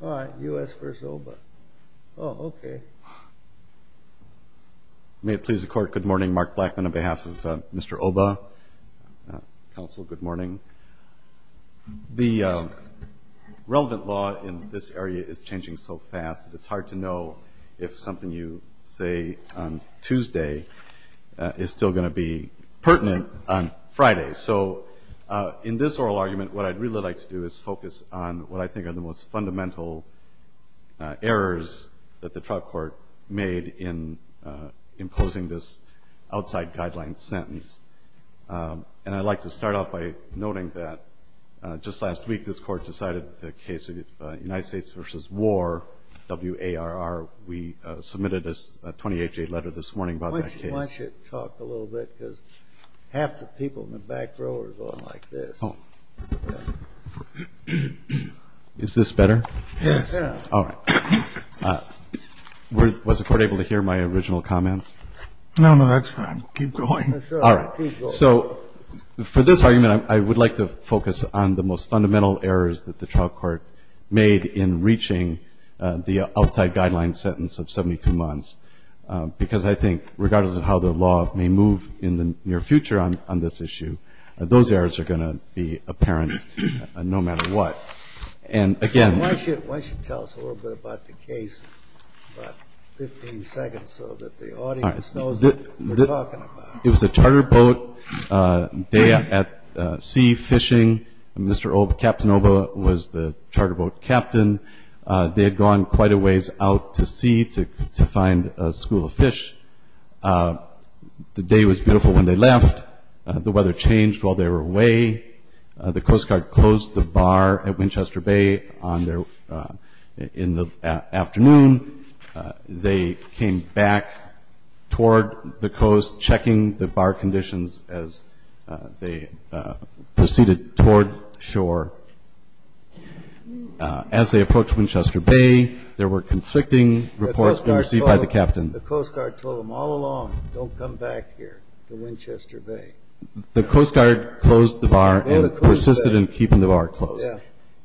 All right, U.S. v. Oba. Oh, okay. May it please the Court, good morning. Mark Blackman on behalf of Mr. Oba. Counsel, good morning. The relevant law in this area is changing so fast that it's hard to know if something you say on Tuesday is still going to be pertinent on Friday. So in this oral argument, what I'd really like to do is focus on what I think are the most fundamental errors that the trial court made in imposing this outside guideline sentence. And I'd like to start off by noting that just last week this Court decided the case of United States v. War, W.A.R.R., we submitted a 28-page letter this morning about that case. I want you to talk a little bit, because half the people in the back row are going like this. Is this better? Yes. All right. Was the Court able to hear my original comments? No, no, that's fine. Keep going. All right. So for this argument, I would like to focus on the most fundamental errors that the trial court made in reaching the outside guideline sentence of 72 months, because I think, regardless of how the law may move in the near future on this issue, those errors are going to be apparent no matter what. And, again- Why don't you tell us a little bit about the case, about 15 seconds, so that the audience knows what you're talking about. It was a charter boat day at sea fishing. Mr. Captainova was the charter boat captain. They had gone quite a ways out to sea to find a school of fish. The day was beautiful when they left. The weather changed while they were away. The Coast Guard closed the bar at Winchester Bay in the afternoon. They came back toward the coast, checking the bar conditions as they proceeded toward shore. As they approached Winchester Bay, there were conflicting reports received by the captain. The Coast Guard told them all along, don't come back here to Winchester Bay. The Coast Guard closed the bar and persisted in keeping the bar closed.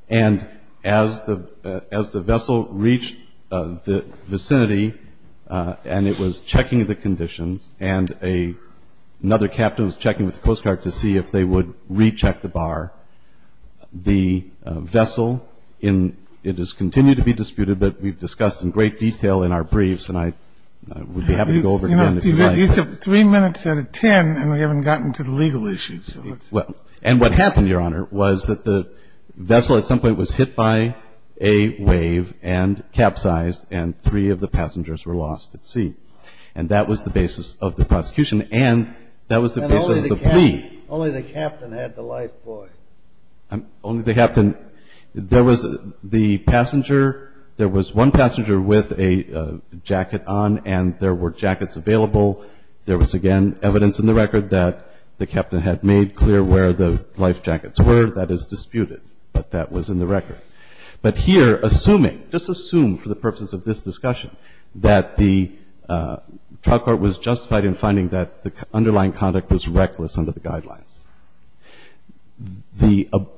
And as the vessel reached the vicinity, and it was checking the conditions, and another captain was checking with the Coast Guard to see if they would recheck the bar, the vessel, it has continued to be disputed, but we've discussed in great detail in our briefs, and I would be happy to go over it again if you'd like. You have three minutes out of ten, and we haven't gotten to the legal issues. And what happened, Your Honor, was that the vessel at some point was hit by a wave and capsized, and three of the passengers were lost at sea. And that was the basis of the prosecution, and that was the basis of the plea. Only the captain had the life buoy. Only the captain. There was the passenger. There was one passenger with a jacket on, and there were jackets available. There was, again, evidence in the record that the captain had made clear where the life jackets were. That is disputed, but that was in the record. But here, assuming, just assume for the purposes of this discussion, that the trial court was justified in finding that the underlying conduct was reckless under the guidelines,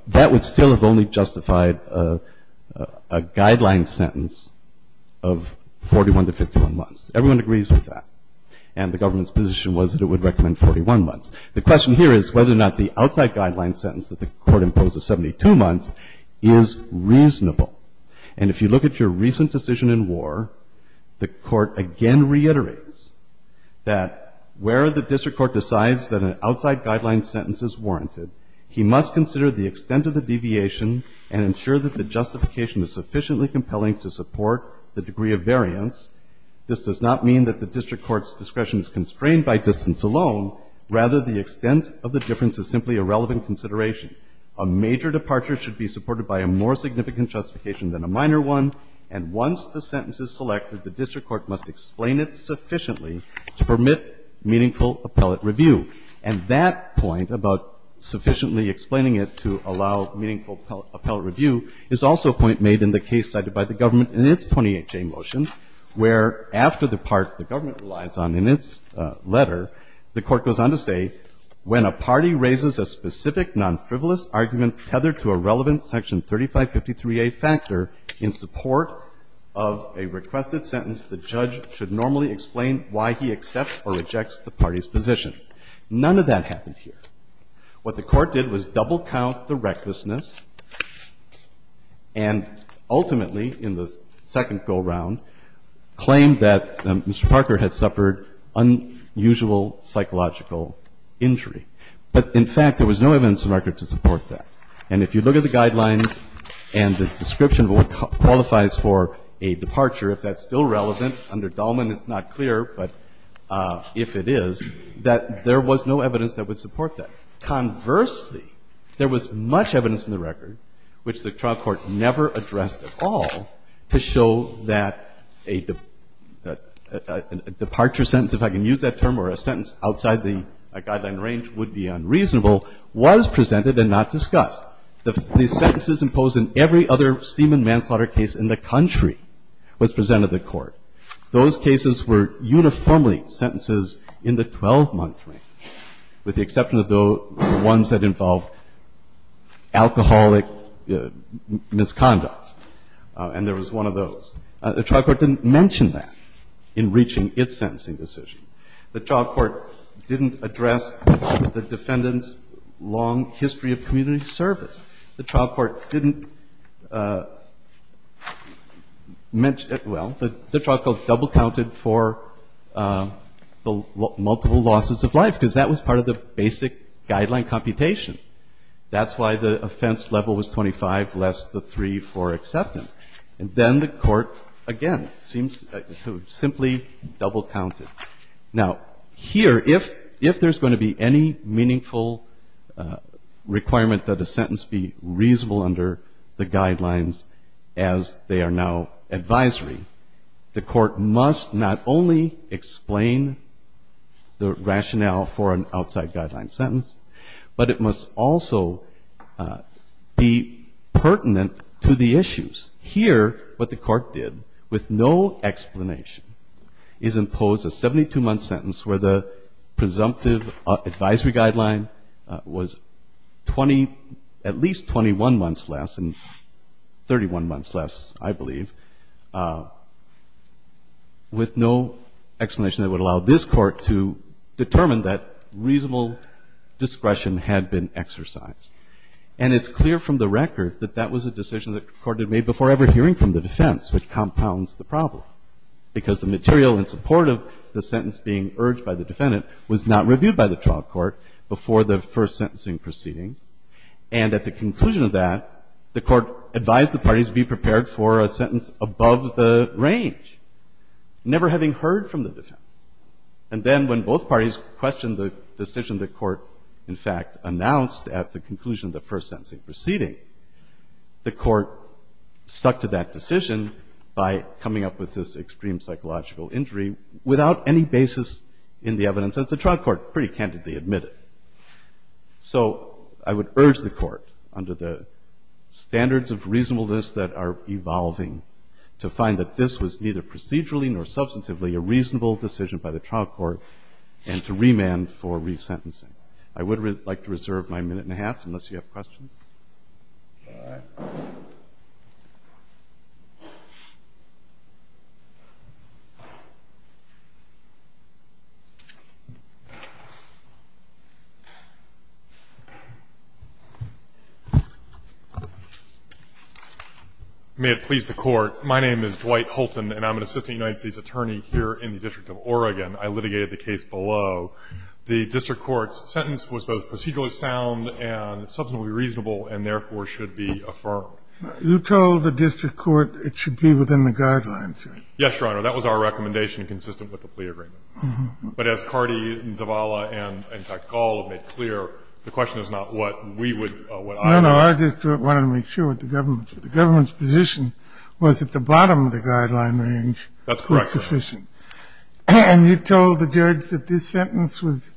that would still have only justified a guideline sentence of 41 to 51 months. Everyone agrees with that. And the government's position was that it would recommend 41 months. The question here is whether or not the outside guideline sentence that the Court imposed of 72 months is reasonable. And if you look at your recent decision in War, the Court again reiterates that where the district court decides that an outside guideline sentence is warranted, he must consider the extent of the deviation and ensure that the justification is sufficiently compelling to support the degree of variance. This does not mean that the district court's discretion is constrained by distance alone. Rather, the extent of the difference is simply a relevant consideration. A major departure should be supported by a more significant justification than a minor one, and once the sentence is selected, the district court must explain it sufficiently to permit meaningful appellate review. And that point about sufficiently explaining it to allow meaningful appellate review is also a point made in the case cited by the government in its 20HA motion, where after the part the government relies on in its letter, the Court goes on to say, when a party raises a specific nonfrivolous argument tethered to a relevant Section 3553a factor in support of a requested sentence, the judge should normally explain why he accepts or rejects the party's position. None of that happened here. What the Court did was double count the recklessness and ultimately, in the second go-round, claimed that Mr. Parker had suffered unusual psychological injury. But, in fact, there was no evidence of record to support that. And if you look at the guidelines and the description of what qualifies for a departure, if that's still relevant, under Dallman it's not clear, but if it is, that there was no evidence that would support that. Conversely, there was much evidence in the record, which the trial court never addressed at all, to show that a departure sentence, if I can use that term, or a sentence outside the guideline range would be unreasonable, was presented and not discussed. The sentences imposed in every other semen manslaughter case in the country was presented to the Court. Those cases were uniformly sentences in the 12-month range, with the exception of the ones that involved alcoholic misconduct. And there was one of those. The trial court didn't mention that in reaching its sentencing decision. The trial court didn't address the defendant's long history of community service. The trial court didn't mention it. Well, the trial court double counted for the multiple losses of life, because that was part of the basic guideline computation. That's why the offense level was 25 less the 3 for acceptance. And then the Court, again, seems to have simply double counted. Now, here, if there's going to be any meaningful requirement that a sentence be reasonable under the guidelines as they are now advisory, the Court must not only explain the rationale for an outside guideline sentence, but it must also be pertinent to the issues. Here, what the Court did, with no explanation, is impose a 72-month sentence where the presumptive advisory guideline was 20, at least 21 months less and 31 months less, I believe, with no explanation that would allow this Court to determine that reasonable discretion had been exercised. And it's clear from the record that that was a decision the Court had made before ever hearing from the defense, which compounds the problem. Because the material in support of the sentence being urged by the defendant was not reviewed by the trial court before the first sentencing proceeding. And at the conclusion of that, the Court advised the parties to be prepared for a sentence above the range, never having heard from the defense. And then when both parties questioned the decision the Court, in fact, announced at the conclusion of the first sentencing proceeding, the Court stuck to that decision by coming up with this extreme psychological injury without any basis in the evidence that the trial court pretty candidly admitted. So I would urge the Court, under the standards of reasonableness that are evolving, to find that this was neither procedurally nor substantively a reasonable decision by the trial court, and to remand for resentencing. I would like to reserve my minute and a half, unless you have questions. All right. May it please the Court. My name is Dwight Holton, and I'm an assistant United States attorney here in the District of Oregon. I litigated the case below. The district court's sentence was both procedurally sound and substantively reasonable, and therefore should be affirmed. You told the district court it should be within the guidelines, right? Yes, Your Honor. That was our recommendation, consistent with the plea agreement. But as Cardi, Zavala, and, in fact, Gall have made clear, the question is not what we would, what I would. No, no. I just wanted to make sure with the government. That's correct, Your Honor. And you told the judge that this sentence was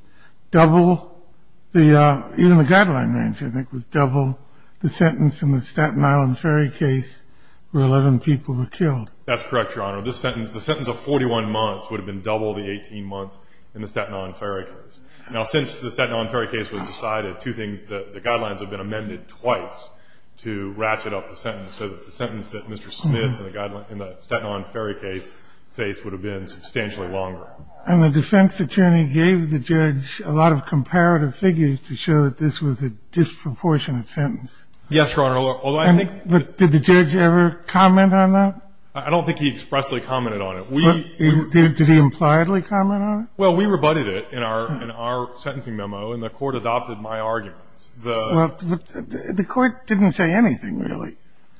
double the, even the guideline mentioned it, was double the sentence in the Staten Island Ferry case where 11 people were killed. That's correct, Your Honor. This sentence, the sentence of 41 months, would have been double the 18 months in the Staten Island Ferry case. Now, since the Staten Island Ferry case was decided, two things, the guidelines have been amended twice to ratchet up the sentence, so that the sentence that And the defense attorney gave the judge a lot of comparative figures to show that this was a disproportionate sentence. Yes, Your Honor. Although I think that Did the judge ever comment on that? I don't think he expressly commented on it. Did he impliedly comment on it? Well, we rebutted it in our sentencing memo, and the court adopted my arguments. Well, the court didn't say anything, really.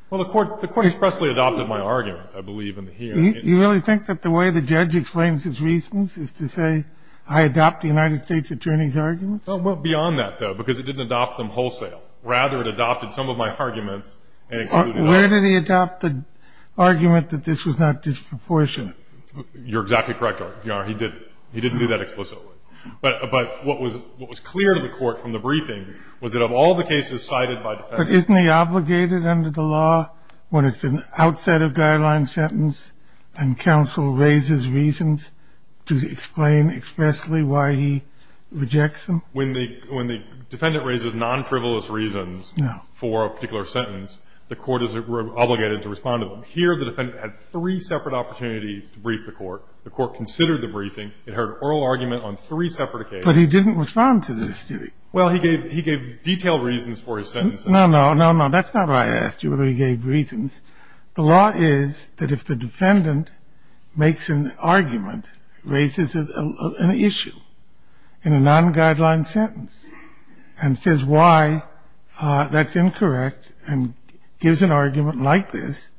Well, the court expressly adopted my arguments, I believe. You really think that the way the judge explains his reasons is to say, I adopt the United States attorney's arguments? Well, beyond that, though, because it didn't adopt them wholesale. Rather, it adopted some of my arguments and included Where did he adopt the argument that this was not disproportionate? You're exactly correct, Your Honor. He didn't do that explicitly. But what was clear to the court from the briefing was that of all the cases cited by But isn't he obligated under the law when it's an outside of guideline sentence and counsel raises reasons to explain expressly why he rejects them? When the defendant raises non-frivolous reasons for a particular sentence, the court is obligated to respond to them. Here, the defendant had three separate opportunities to brief the court. The court considered the briefing. It heard oral argument on three separate occasions. But he didn't respond to this, did he? Well, he gave detailed reasons for his sentences. No, no, no, no. That's not why I asked you whether he gave reasons. The law is that if the defendant makes an argument, raises an issue in a non-guideline sentence and says why that's incorrect and gives an argument like this,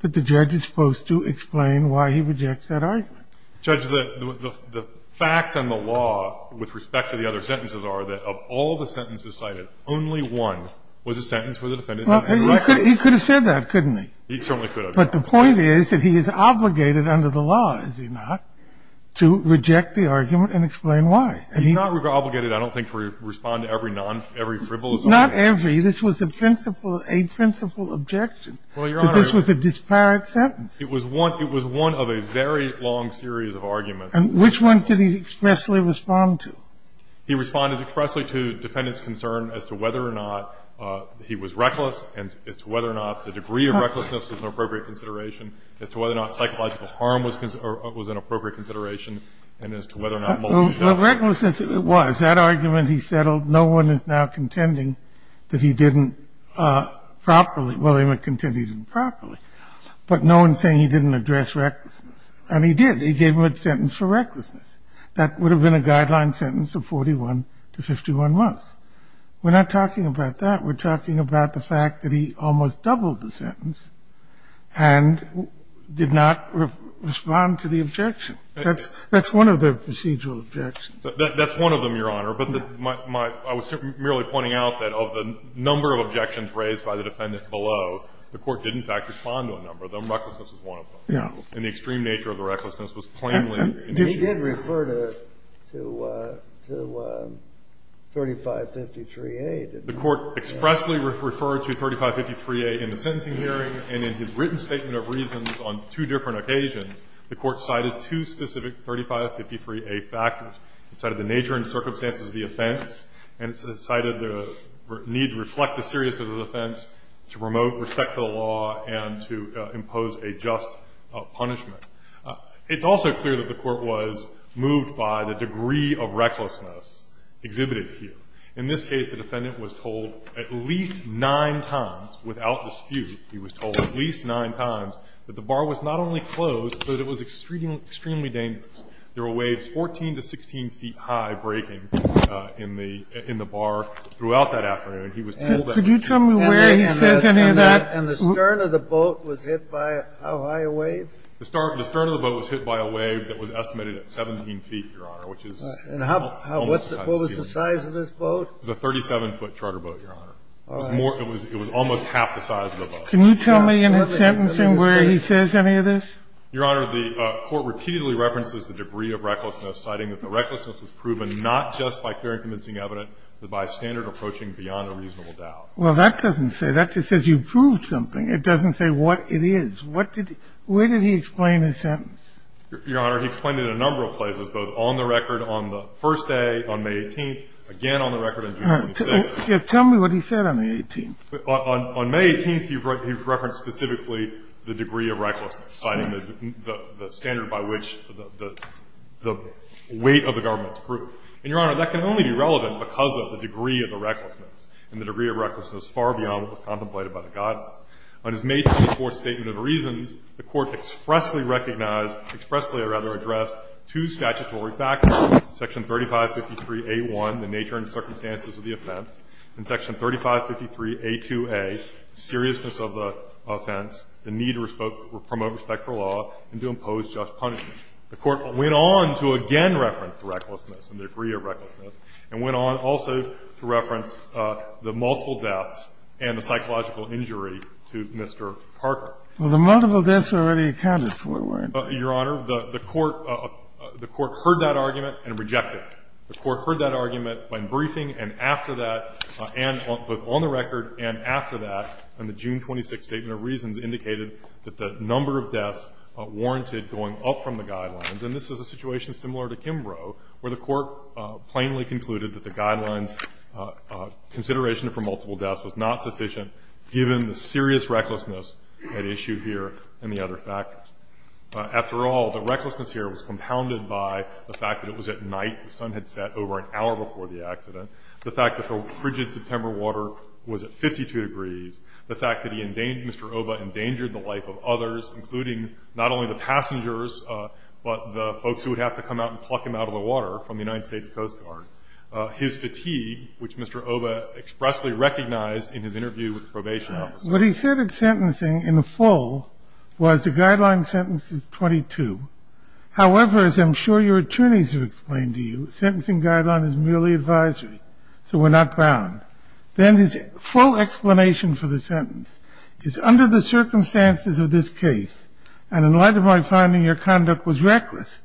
that the judge is supposed to explain why he rejects that argument. Judge, the facts and the law with respect to the other sentences are that of all the He could have said that, couldn't he? He certainly could have. But the point is that he is obligated under the law, is he not, to reject the argument and explain why. He's not obligated, I don't think, to respond to every non-frivolous argument. Not every. This was a principle objection. Well, Your Honor. That this was a disparate sentence. It was one of a very long series of arguments. And which ones did he expressly respond to? He responded expressly to defendant's concern as to whether or not he was reckless and as to whether or not the degree of recklessness was an appropriate consideration, as to whether or not psychological harm was an appropriate consideration, and as to whether or not multiple charges. Well, recklessness it was. That argument he settled, no one is now contending that he didn't properly. Well, they might contend he didn't properly. But no one is saying he didn't address recklessness. And he did. He gave him a sentence for recklessness. That would have been a guideline sentence of 41 to 51 months. We're not talking about that. We're talking about the fact that he almost doubled the sentence and did not respond to the objection. That's one of the procedural objections. That's one of them, Your Honor. But I was merely pointing out that of the number of objections raised by the defendant below, the Court did in fact respond to a number of them. Recklessness was one of them. Yeah. And the extreme nature of the recklessness was plainly indicated. He did refer to 3553A, didn't he? The Court expressly referred to 3553A in the sentencing hearing, and in his written statement of reasons on two different occasions, the Court cited two specific 3553A factors. It cited the nature and circumstances of the offense, and it cited the need to reflect the seriousness of the offense, to promote respect to the law, and to impose a just punishment. It's also clear that the Court was moved by the degree of recklessness exhibited here. In this case, the defendant was told at least nine times, without dispute, he was told at least nine times that the bar was not only closed, but it was extremely dangerous. There were waves 14 to 16 feet high breaking in the bar throughout that afternoon. He was told that. Could you tell me where he says any of that? And the stern of the boat was hit by how high a wave? The stern of the boat was hit by a wave that was estimated at 17 feet, Your Honor, which is almost as high as the ceiling. What was the size of this boat? It was a 37-foot charter boat, Your Honor. It was almost half the size of the boat. Can you tell me in his sentencing where he says any of this? Your Honor, the Court repeatedly references the debris of recklessness, citing that the recklessness was proven not just by fair and convincing evidence, but by standard approaching beyond a reasonable doubt. Well, that doesn't say that. It says you proved something. It doesn't say what it is. What did he – where did he explain his sentence? Your Honor, he explained it in a number of places, both on the record on the first day on May 18th, again on the record on June 26th. Tell me what he said on the 18th. On May 18th, he referenced specifically the debris of recklessness, citing the standard by which the weight of the government is proved. And, Your Honor, that can only be relevant because of the debris of the recklessness, and the debris of recklessness far beyond what was contemplated by the guidance. On his May 24th statement of reasons, the Court expressly recognized, expressly or rather addressed, two statutory factors, section 3553a1, the nature and circumstances of the offense, and section 3553a2a, seriousness of the offense, the need to promote respect for law and to impose just punishment. The Court went on to again reference the recklessness and debris of recklessness and went on also to reference the multiple deaths and the psychological injury to Mr. Parker. Well, the multiple deaths are already accounted for, weren't they? Your Honor, the Court heard that argument and rejected it. The Court heard that argument when briefing, and after that, and both on the record and after that, on the June 26th statement of reasons, indicated that the number of deaths warranted going up from the guidelines. And this is a situation similar to Kimbrough, where the Court plainly concluded that the guidelines' consideration for multiple deaths was not sufficient, given the serious recklessness at issue here and the other factors. After all, the recklessness here was compounded by the fact that it was at night, the sun had set over an hour before the accident, the fact that the frigid September water was at 52 degrees, the fact that Mr. Oba endangered the life of others, including not only the passengers but the folks who would have to come out and pluck him out of the water from the United States Coast Guard, his fatigue, which Mr. Oba expressly recognized in his interview with the probation officer. What he said at sentencing in full was the guideline sentence is 22. However, as I'm sure your attorneys have explained to you, the sentencing guideline is merely advisory, so we're not bound. Then his full explanation for the sentence is, under the circumstances of this case, and in light of my finding your conduct was reckless,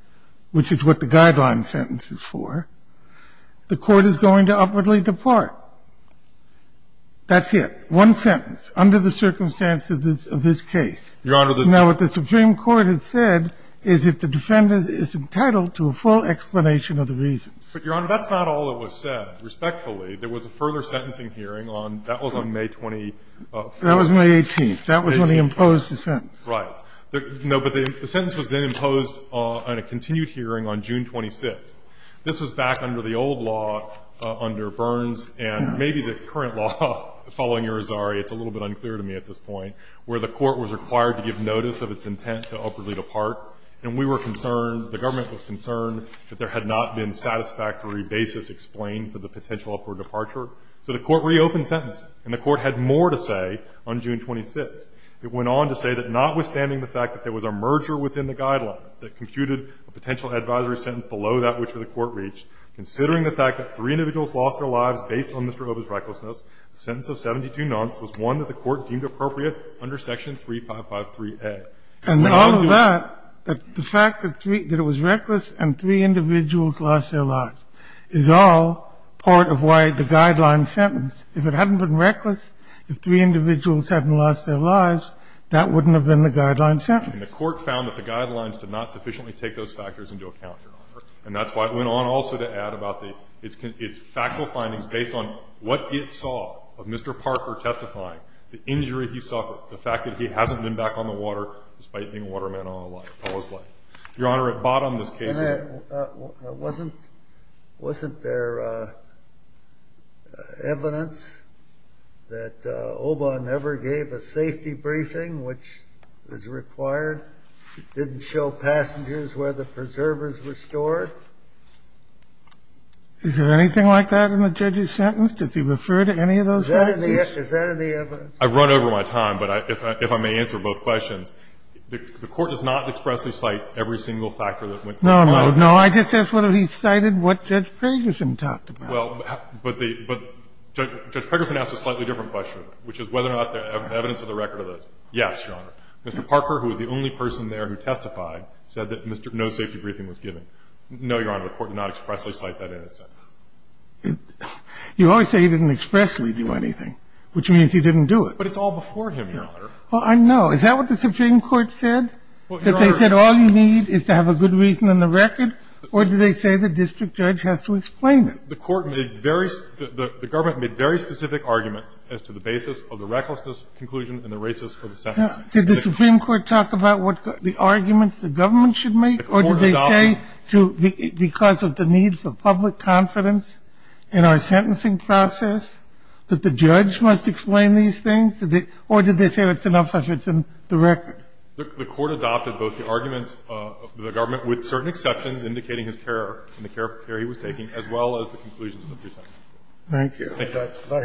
which is what the guideline sentence is for, the Court is going to upwardly depart. That's it. One sentence, under the circumstances of this case. Now, what the Supreme Court has said is that the defendant is entitled to a full explanation of the reasons. But, Your Honor, that's not all that was said. Respectfully, there was a further sentencing hearing on, that was on May 24th. That was May 18th. That was when he imposed the sentence. Right. No, but the sentence was then imposed on a continued hearing on June 26th. This was back under the old law under Burns and maybe the current law following Irizarry, it's a little bit unclear to me at this point, where the Court was required to give notice of its intent to upwardly depart, and we were concerned, the government was concerned that there had not been satisfactory basis explained for the potential upward departure. So the Court reopened sentencing, and the Court had more to say on June 26th. It went on to say that, notwithstanding the fact that there was a merger within the guidelines that computed a potential advisory sentence below that which the Court reached, considering the fact that three individuals lost their lives based on Mr. Hoba's recklessness, the sentence of 72 months was one that the Court deemed appropriate under section 3553A. And all of that, the fact that it was reckless and three individuals lost their lives is all part of why the guideline sentence. If it hadn't been reckless, if three individuals hadn't lost their lives, that wouldn't have been the guideline sentence. And the Court found that the guidelines did not sufficiently take those factors into account, Your Honor. And that's why it went on also to add about the its factual findings based on what it saw of Mr. Parker testifying, the injury he suffered, the fact that he hasn't been back on the water despite being a waterman all his life. Your Honor, it bought on this case. Kennedy, wasn't there evidence that Hoba never gave a safety briefing which was required? It didn't show passengers where the preservers were stored? Is there anything like that in the judge's sentence? Did he refer to any of those factors? Is that in the evidence? I've run over my time, but if I may answer both questions. The Court does not expressly cite every single factor that went through. No, no, no. I just asked whether he cited what Judge Pedersen talked about. Well, but Judge Pedersen asked a slightly different question, which is whether or not there's evidence of the record of this. Yes, Your Honor. Mr. Parker, who was the only person there who testified, said that no safety briefing was given. No, Your Honor, the Court did not expressly cite that in its sentence. You always say he didn't expressly do anything, which means he didn't do it. But it's all before him, Your Honor. Well, I know. Is that what the Supreme Court said, that they said all you need is to have a good reason in the record? Or did they say the district judge has to explain it? The Court made various – the Government made very specific arguments as to the basis of the recklessness conclusion and the racist for the sentence. Did the Supreme Court talk about what the arguments the Government should make? Or did they say, because of the need for public confidence in our sentencing process, that the judge must explain these things? Or did they say it's enough if it's in the record? The Court adopted both the arguments of the Government, with certain exceptions indicating his care and the care he was taking, as well as the conclusions of the sentence. But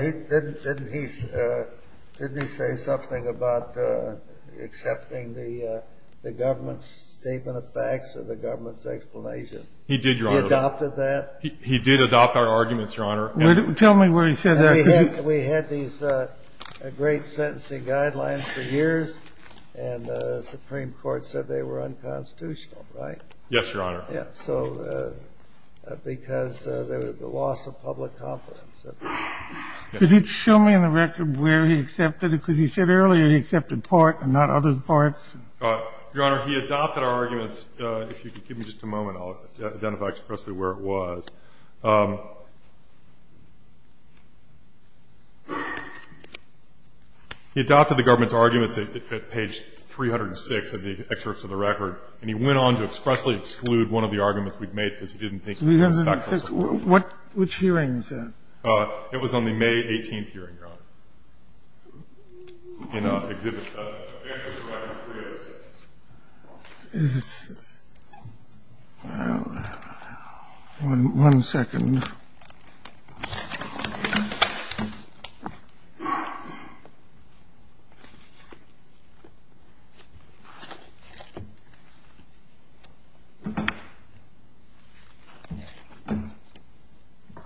didn't he say something about accepting the Government's statement of facts or the Government's explanation? He did, Your Honor. He adopted that? He did adopt our arguments, Your Honor. Tell me where he said that. We had these great sentencing guidelines for years, and the Supreme Court said they were unconstitutional, right? Yes, Your Honor. Yes, so because of the loss of public confidence. Could you show me in the record where he accepted it? Because he said earlier he accepted part and not other parts. Your Honor, he adopted our arguments. If you could give me just a moment, I'll identify expressly where it was. He adopted the Government's arguments at page 306 of the excerpts of the record, and he went on to expressly exclude one of the arguments we'd made because he didn't think it was factual. Which hearing is that? It was on the May 18th hearing, Your Honor, in Exhibit 7. One second.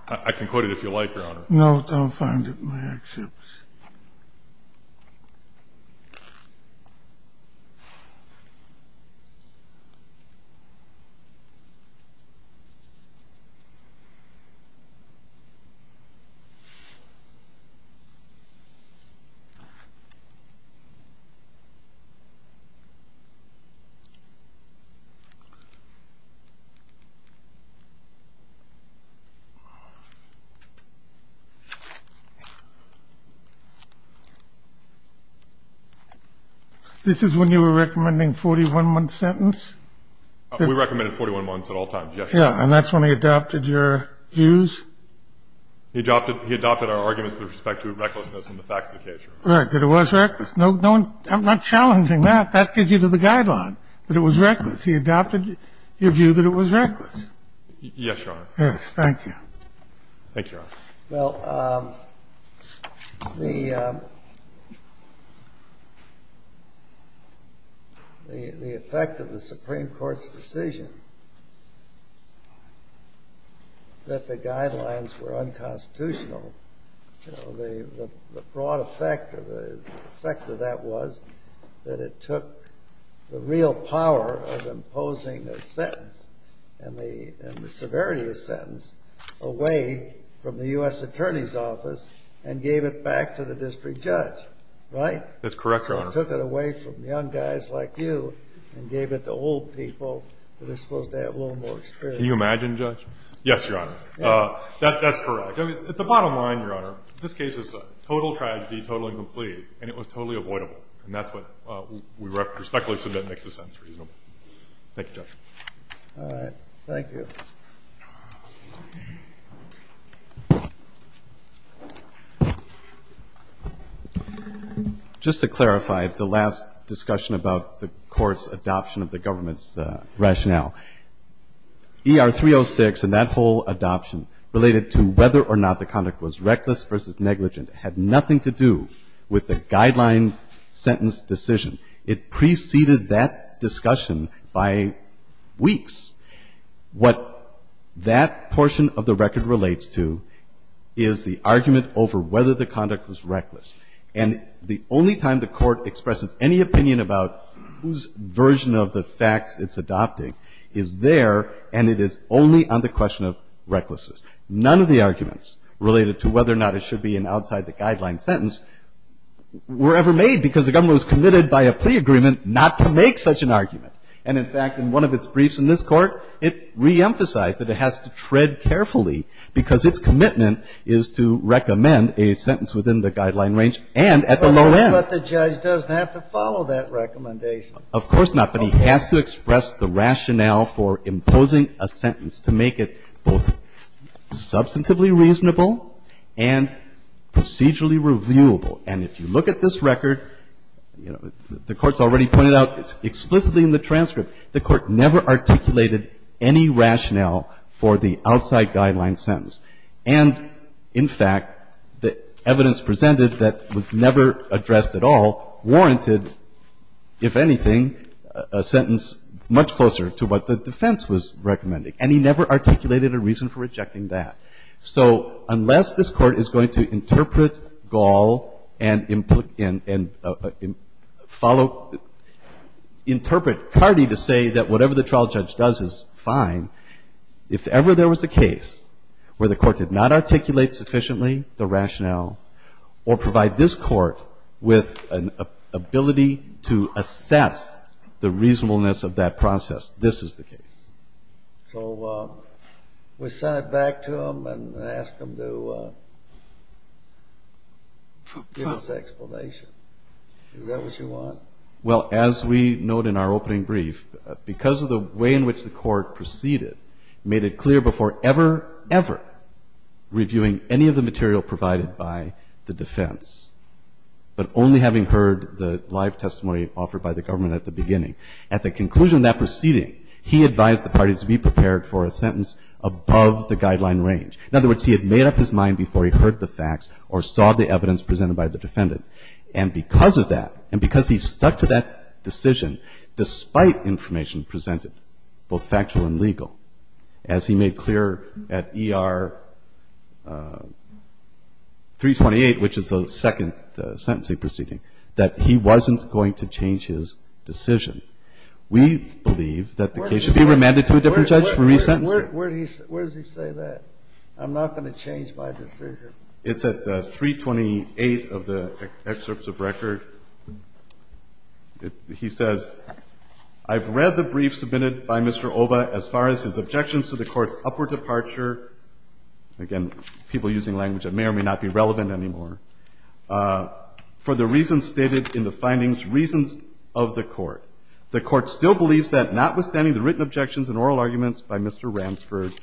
I can quote it if you like, Your Honor. No, don't find it in the excerpts. It's not in the excerpts. This is when you were recommending a 41-month sentence? We recommended 41 months at all times, yes, Your Honor. And that's when he adopted your views? He adopted our arguments with respect to recklessness and the facts of the case, Your Honor. Right. That it was reckless. I'm not challenging that. That gives you to the guideline, that it was reckless. He adopted your view that it was reckless. Yes, Your Honor. Yes. Thank you. Thank you, Your Honor. Well, the effect of the Supreme Court's decision that the guidelines were unconstitutional, the broad effect of that was that it took the real power of imposing a sentence and the severity of the sentence away from the US attorney's office and gave it back to the district judge, right? That's correct, Your Honor. It took it away from young guys like you and gave it to old people that are supposed to have a little more experience. Can you imagine, Judge? Yes, Your Honor. That's correct. At the bottom line, Your Honor, this case is a total tragedy, total incomplete, and it was totally avoidable. And that's what we respectfully submit makes the sentence reasonable. Thank you, Judge. All right. Thank you. Just to clarify the last discussion about the court's adoption of the government's rationale, ER-306 and that whole adoption related to whether or not the conduct was reckless versus negligent had nothing to do with the guideline sentence decision. It preceded that discussion by weeks. What that portion of the record relates to is the argument over whether the conduct was reckless. And the only time the court expresses any opinion about whose version of the facts it's adopting is there, and it is only on the question of recklessness. None of the arguments related to whether or not it should be an outside the guideline sentence were ever made because the government was committed by a plea agreement not to make such an argument. And in fact, in one of its briefs in this court, it reemphasized that it has to tread carefully because its commitment is to recommend a sentence within the guideline range and at the low end. But the judge doesn't have to follow that recommendation. Of course not. But he has to express the rationale for imposing a sentence to make it both substantively reasonable and procedurally reviewable. And if you look at this record, the Court's already pointed out explicitly in the transcript, the Court never articulated any rationale for the outside guideline sentence. And in fact, the evidence presented that was never addressed at all warranted, if anything, a sentence much closer to what the defense was recommending. And he never articulated a reason for rejecting that. So unless this Court is going to interpret Gall and follow, interpret Cardee to say that whatever the trial judge does is fine, if ever there was a case where the Court did not articulate sufficiently the rationale or provide this Court with an ability to assess the reasonableness of that process, this is the case. So we send it back to him and ask him to give us an explanation. Is that what you want? Well, as we note in our opening brief, because of the way in which the Court proceeded, made it clear before ever, ever reviewing any of the material provided by the defense, but only having heard the live testimony offered by the government at the beginning, at the conclusion of that proceeding, he advised the parties to be prepared for a sentence above the guideline range. In other words, he had made up his mind before he heard the facts or saw the evidence presented by the defendant. And because of that, and because he stuck to that decision, despite information presented, both factual and legal, as he made clear at ER 328, which is the second sentencing proceeding, that he wasn't going to change his decision. We believe that the case should be remanded to a different judge for re-sentence. Where does he say that? I'm not going to change my decision. It's at 328 of the excerpts of record. He says, I've read the brief submitted by Mr. Oba as far as his objections to the Court's upward departure. Again, people using language that may or may not be relevant anymore. For the reasons stated in the findings, reasons of the court. The court still believes that notwithstanding the written objections and oral arguments by Mr. Ransford,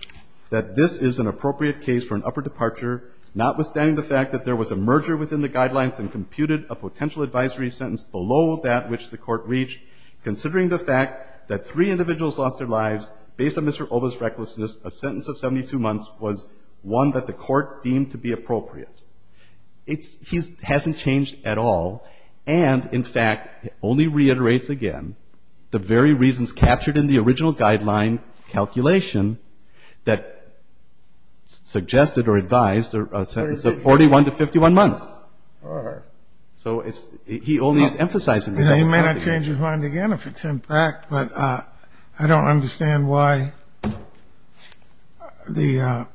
that this is an appropriate case for an upper departure, notwithstanding the fact that there was a merger within the guidelines and computed a potential advisory sentence below that which the court reached. Considering the fact that three individuals lost their lives based on Mr. Oba's recklessness, a sentence of 72 months was one that the court deemed to be appropriate. It's, he hasn't changed at all. And, in fact, only reiterates again the very reasons captured in the original guideline calculation that suggested or advised a sentence of 41 to 51 months. So it's, he only is emphasizing it. And he may not change his mind again if it's in fact, but I don't understand why the,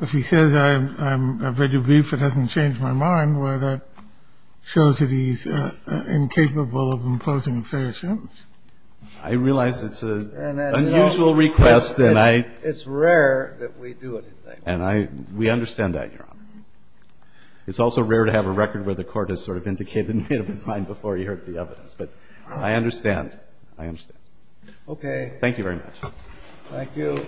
if he says I'm very brief, it hasn't changed my mind, where that shows that he's incapable of imposing a fairer sentence. I realize it's an unusual request and I, it's rare that we do it. And I, we understand that, Your Honor. It's also rare to have a record where the court has sort of indicated in his mind before he heard the evidence, but I understand, I understand. Okay. Thank you very much. Thank you.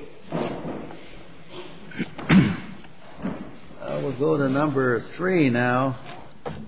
We'll go to number three now.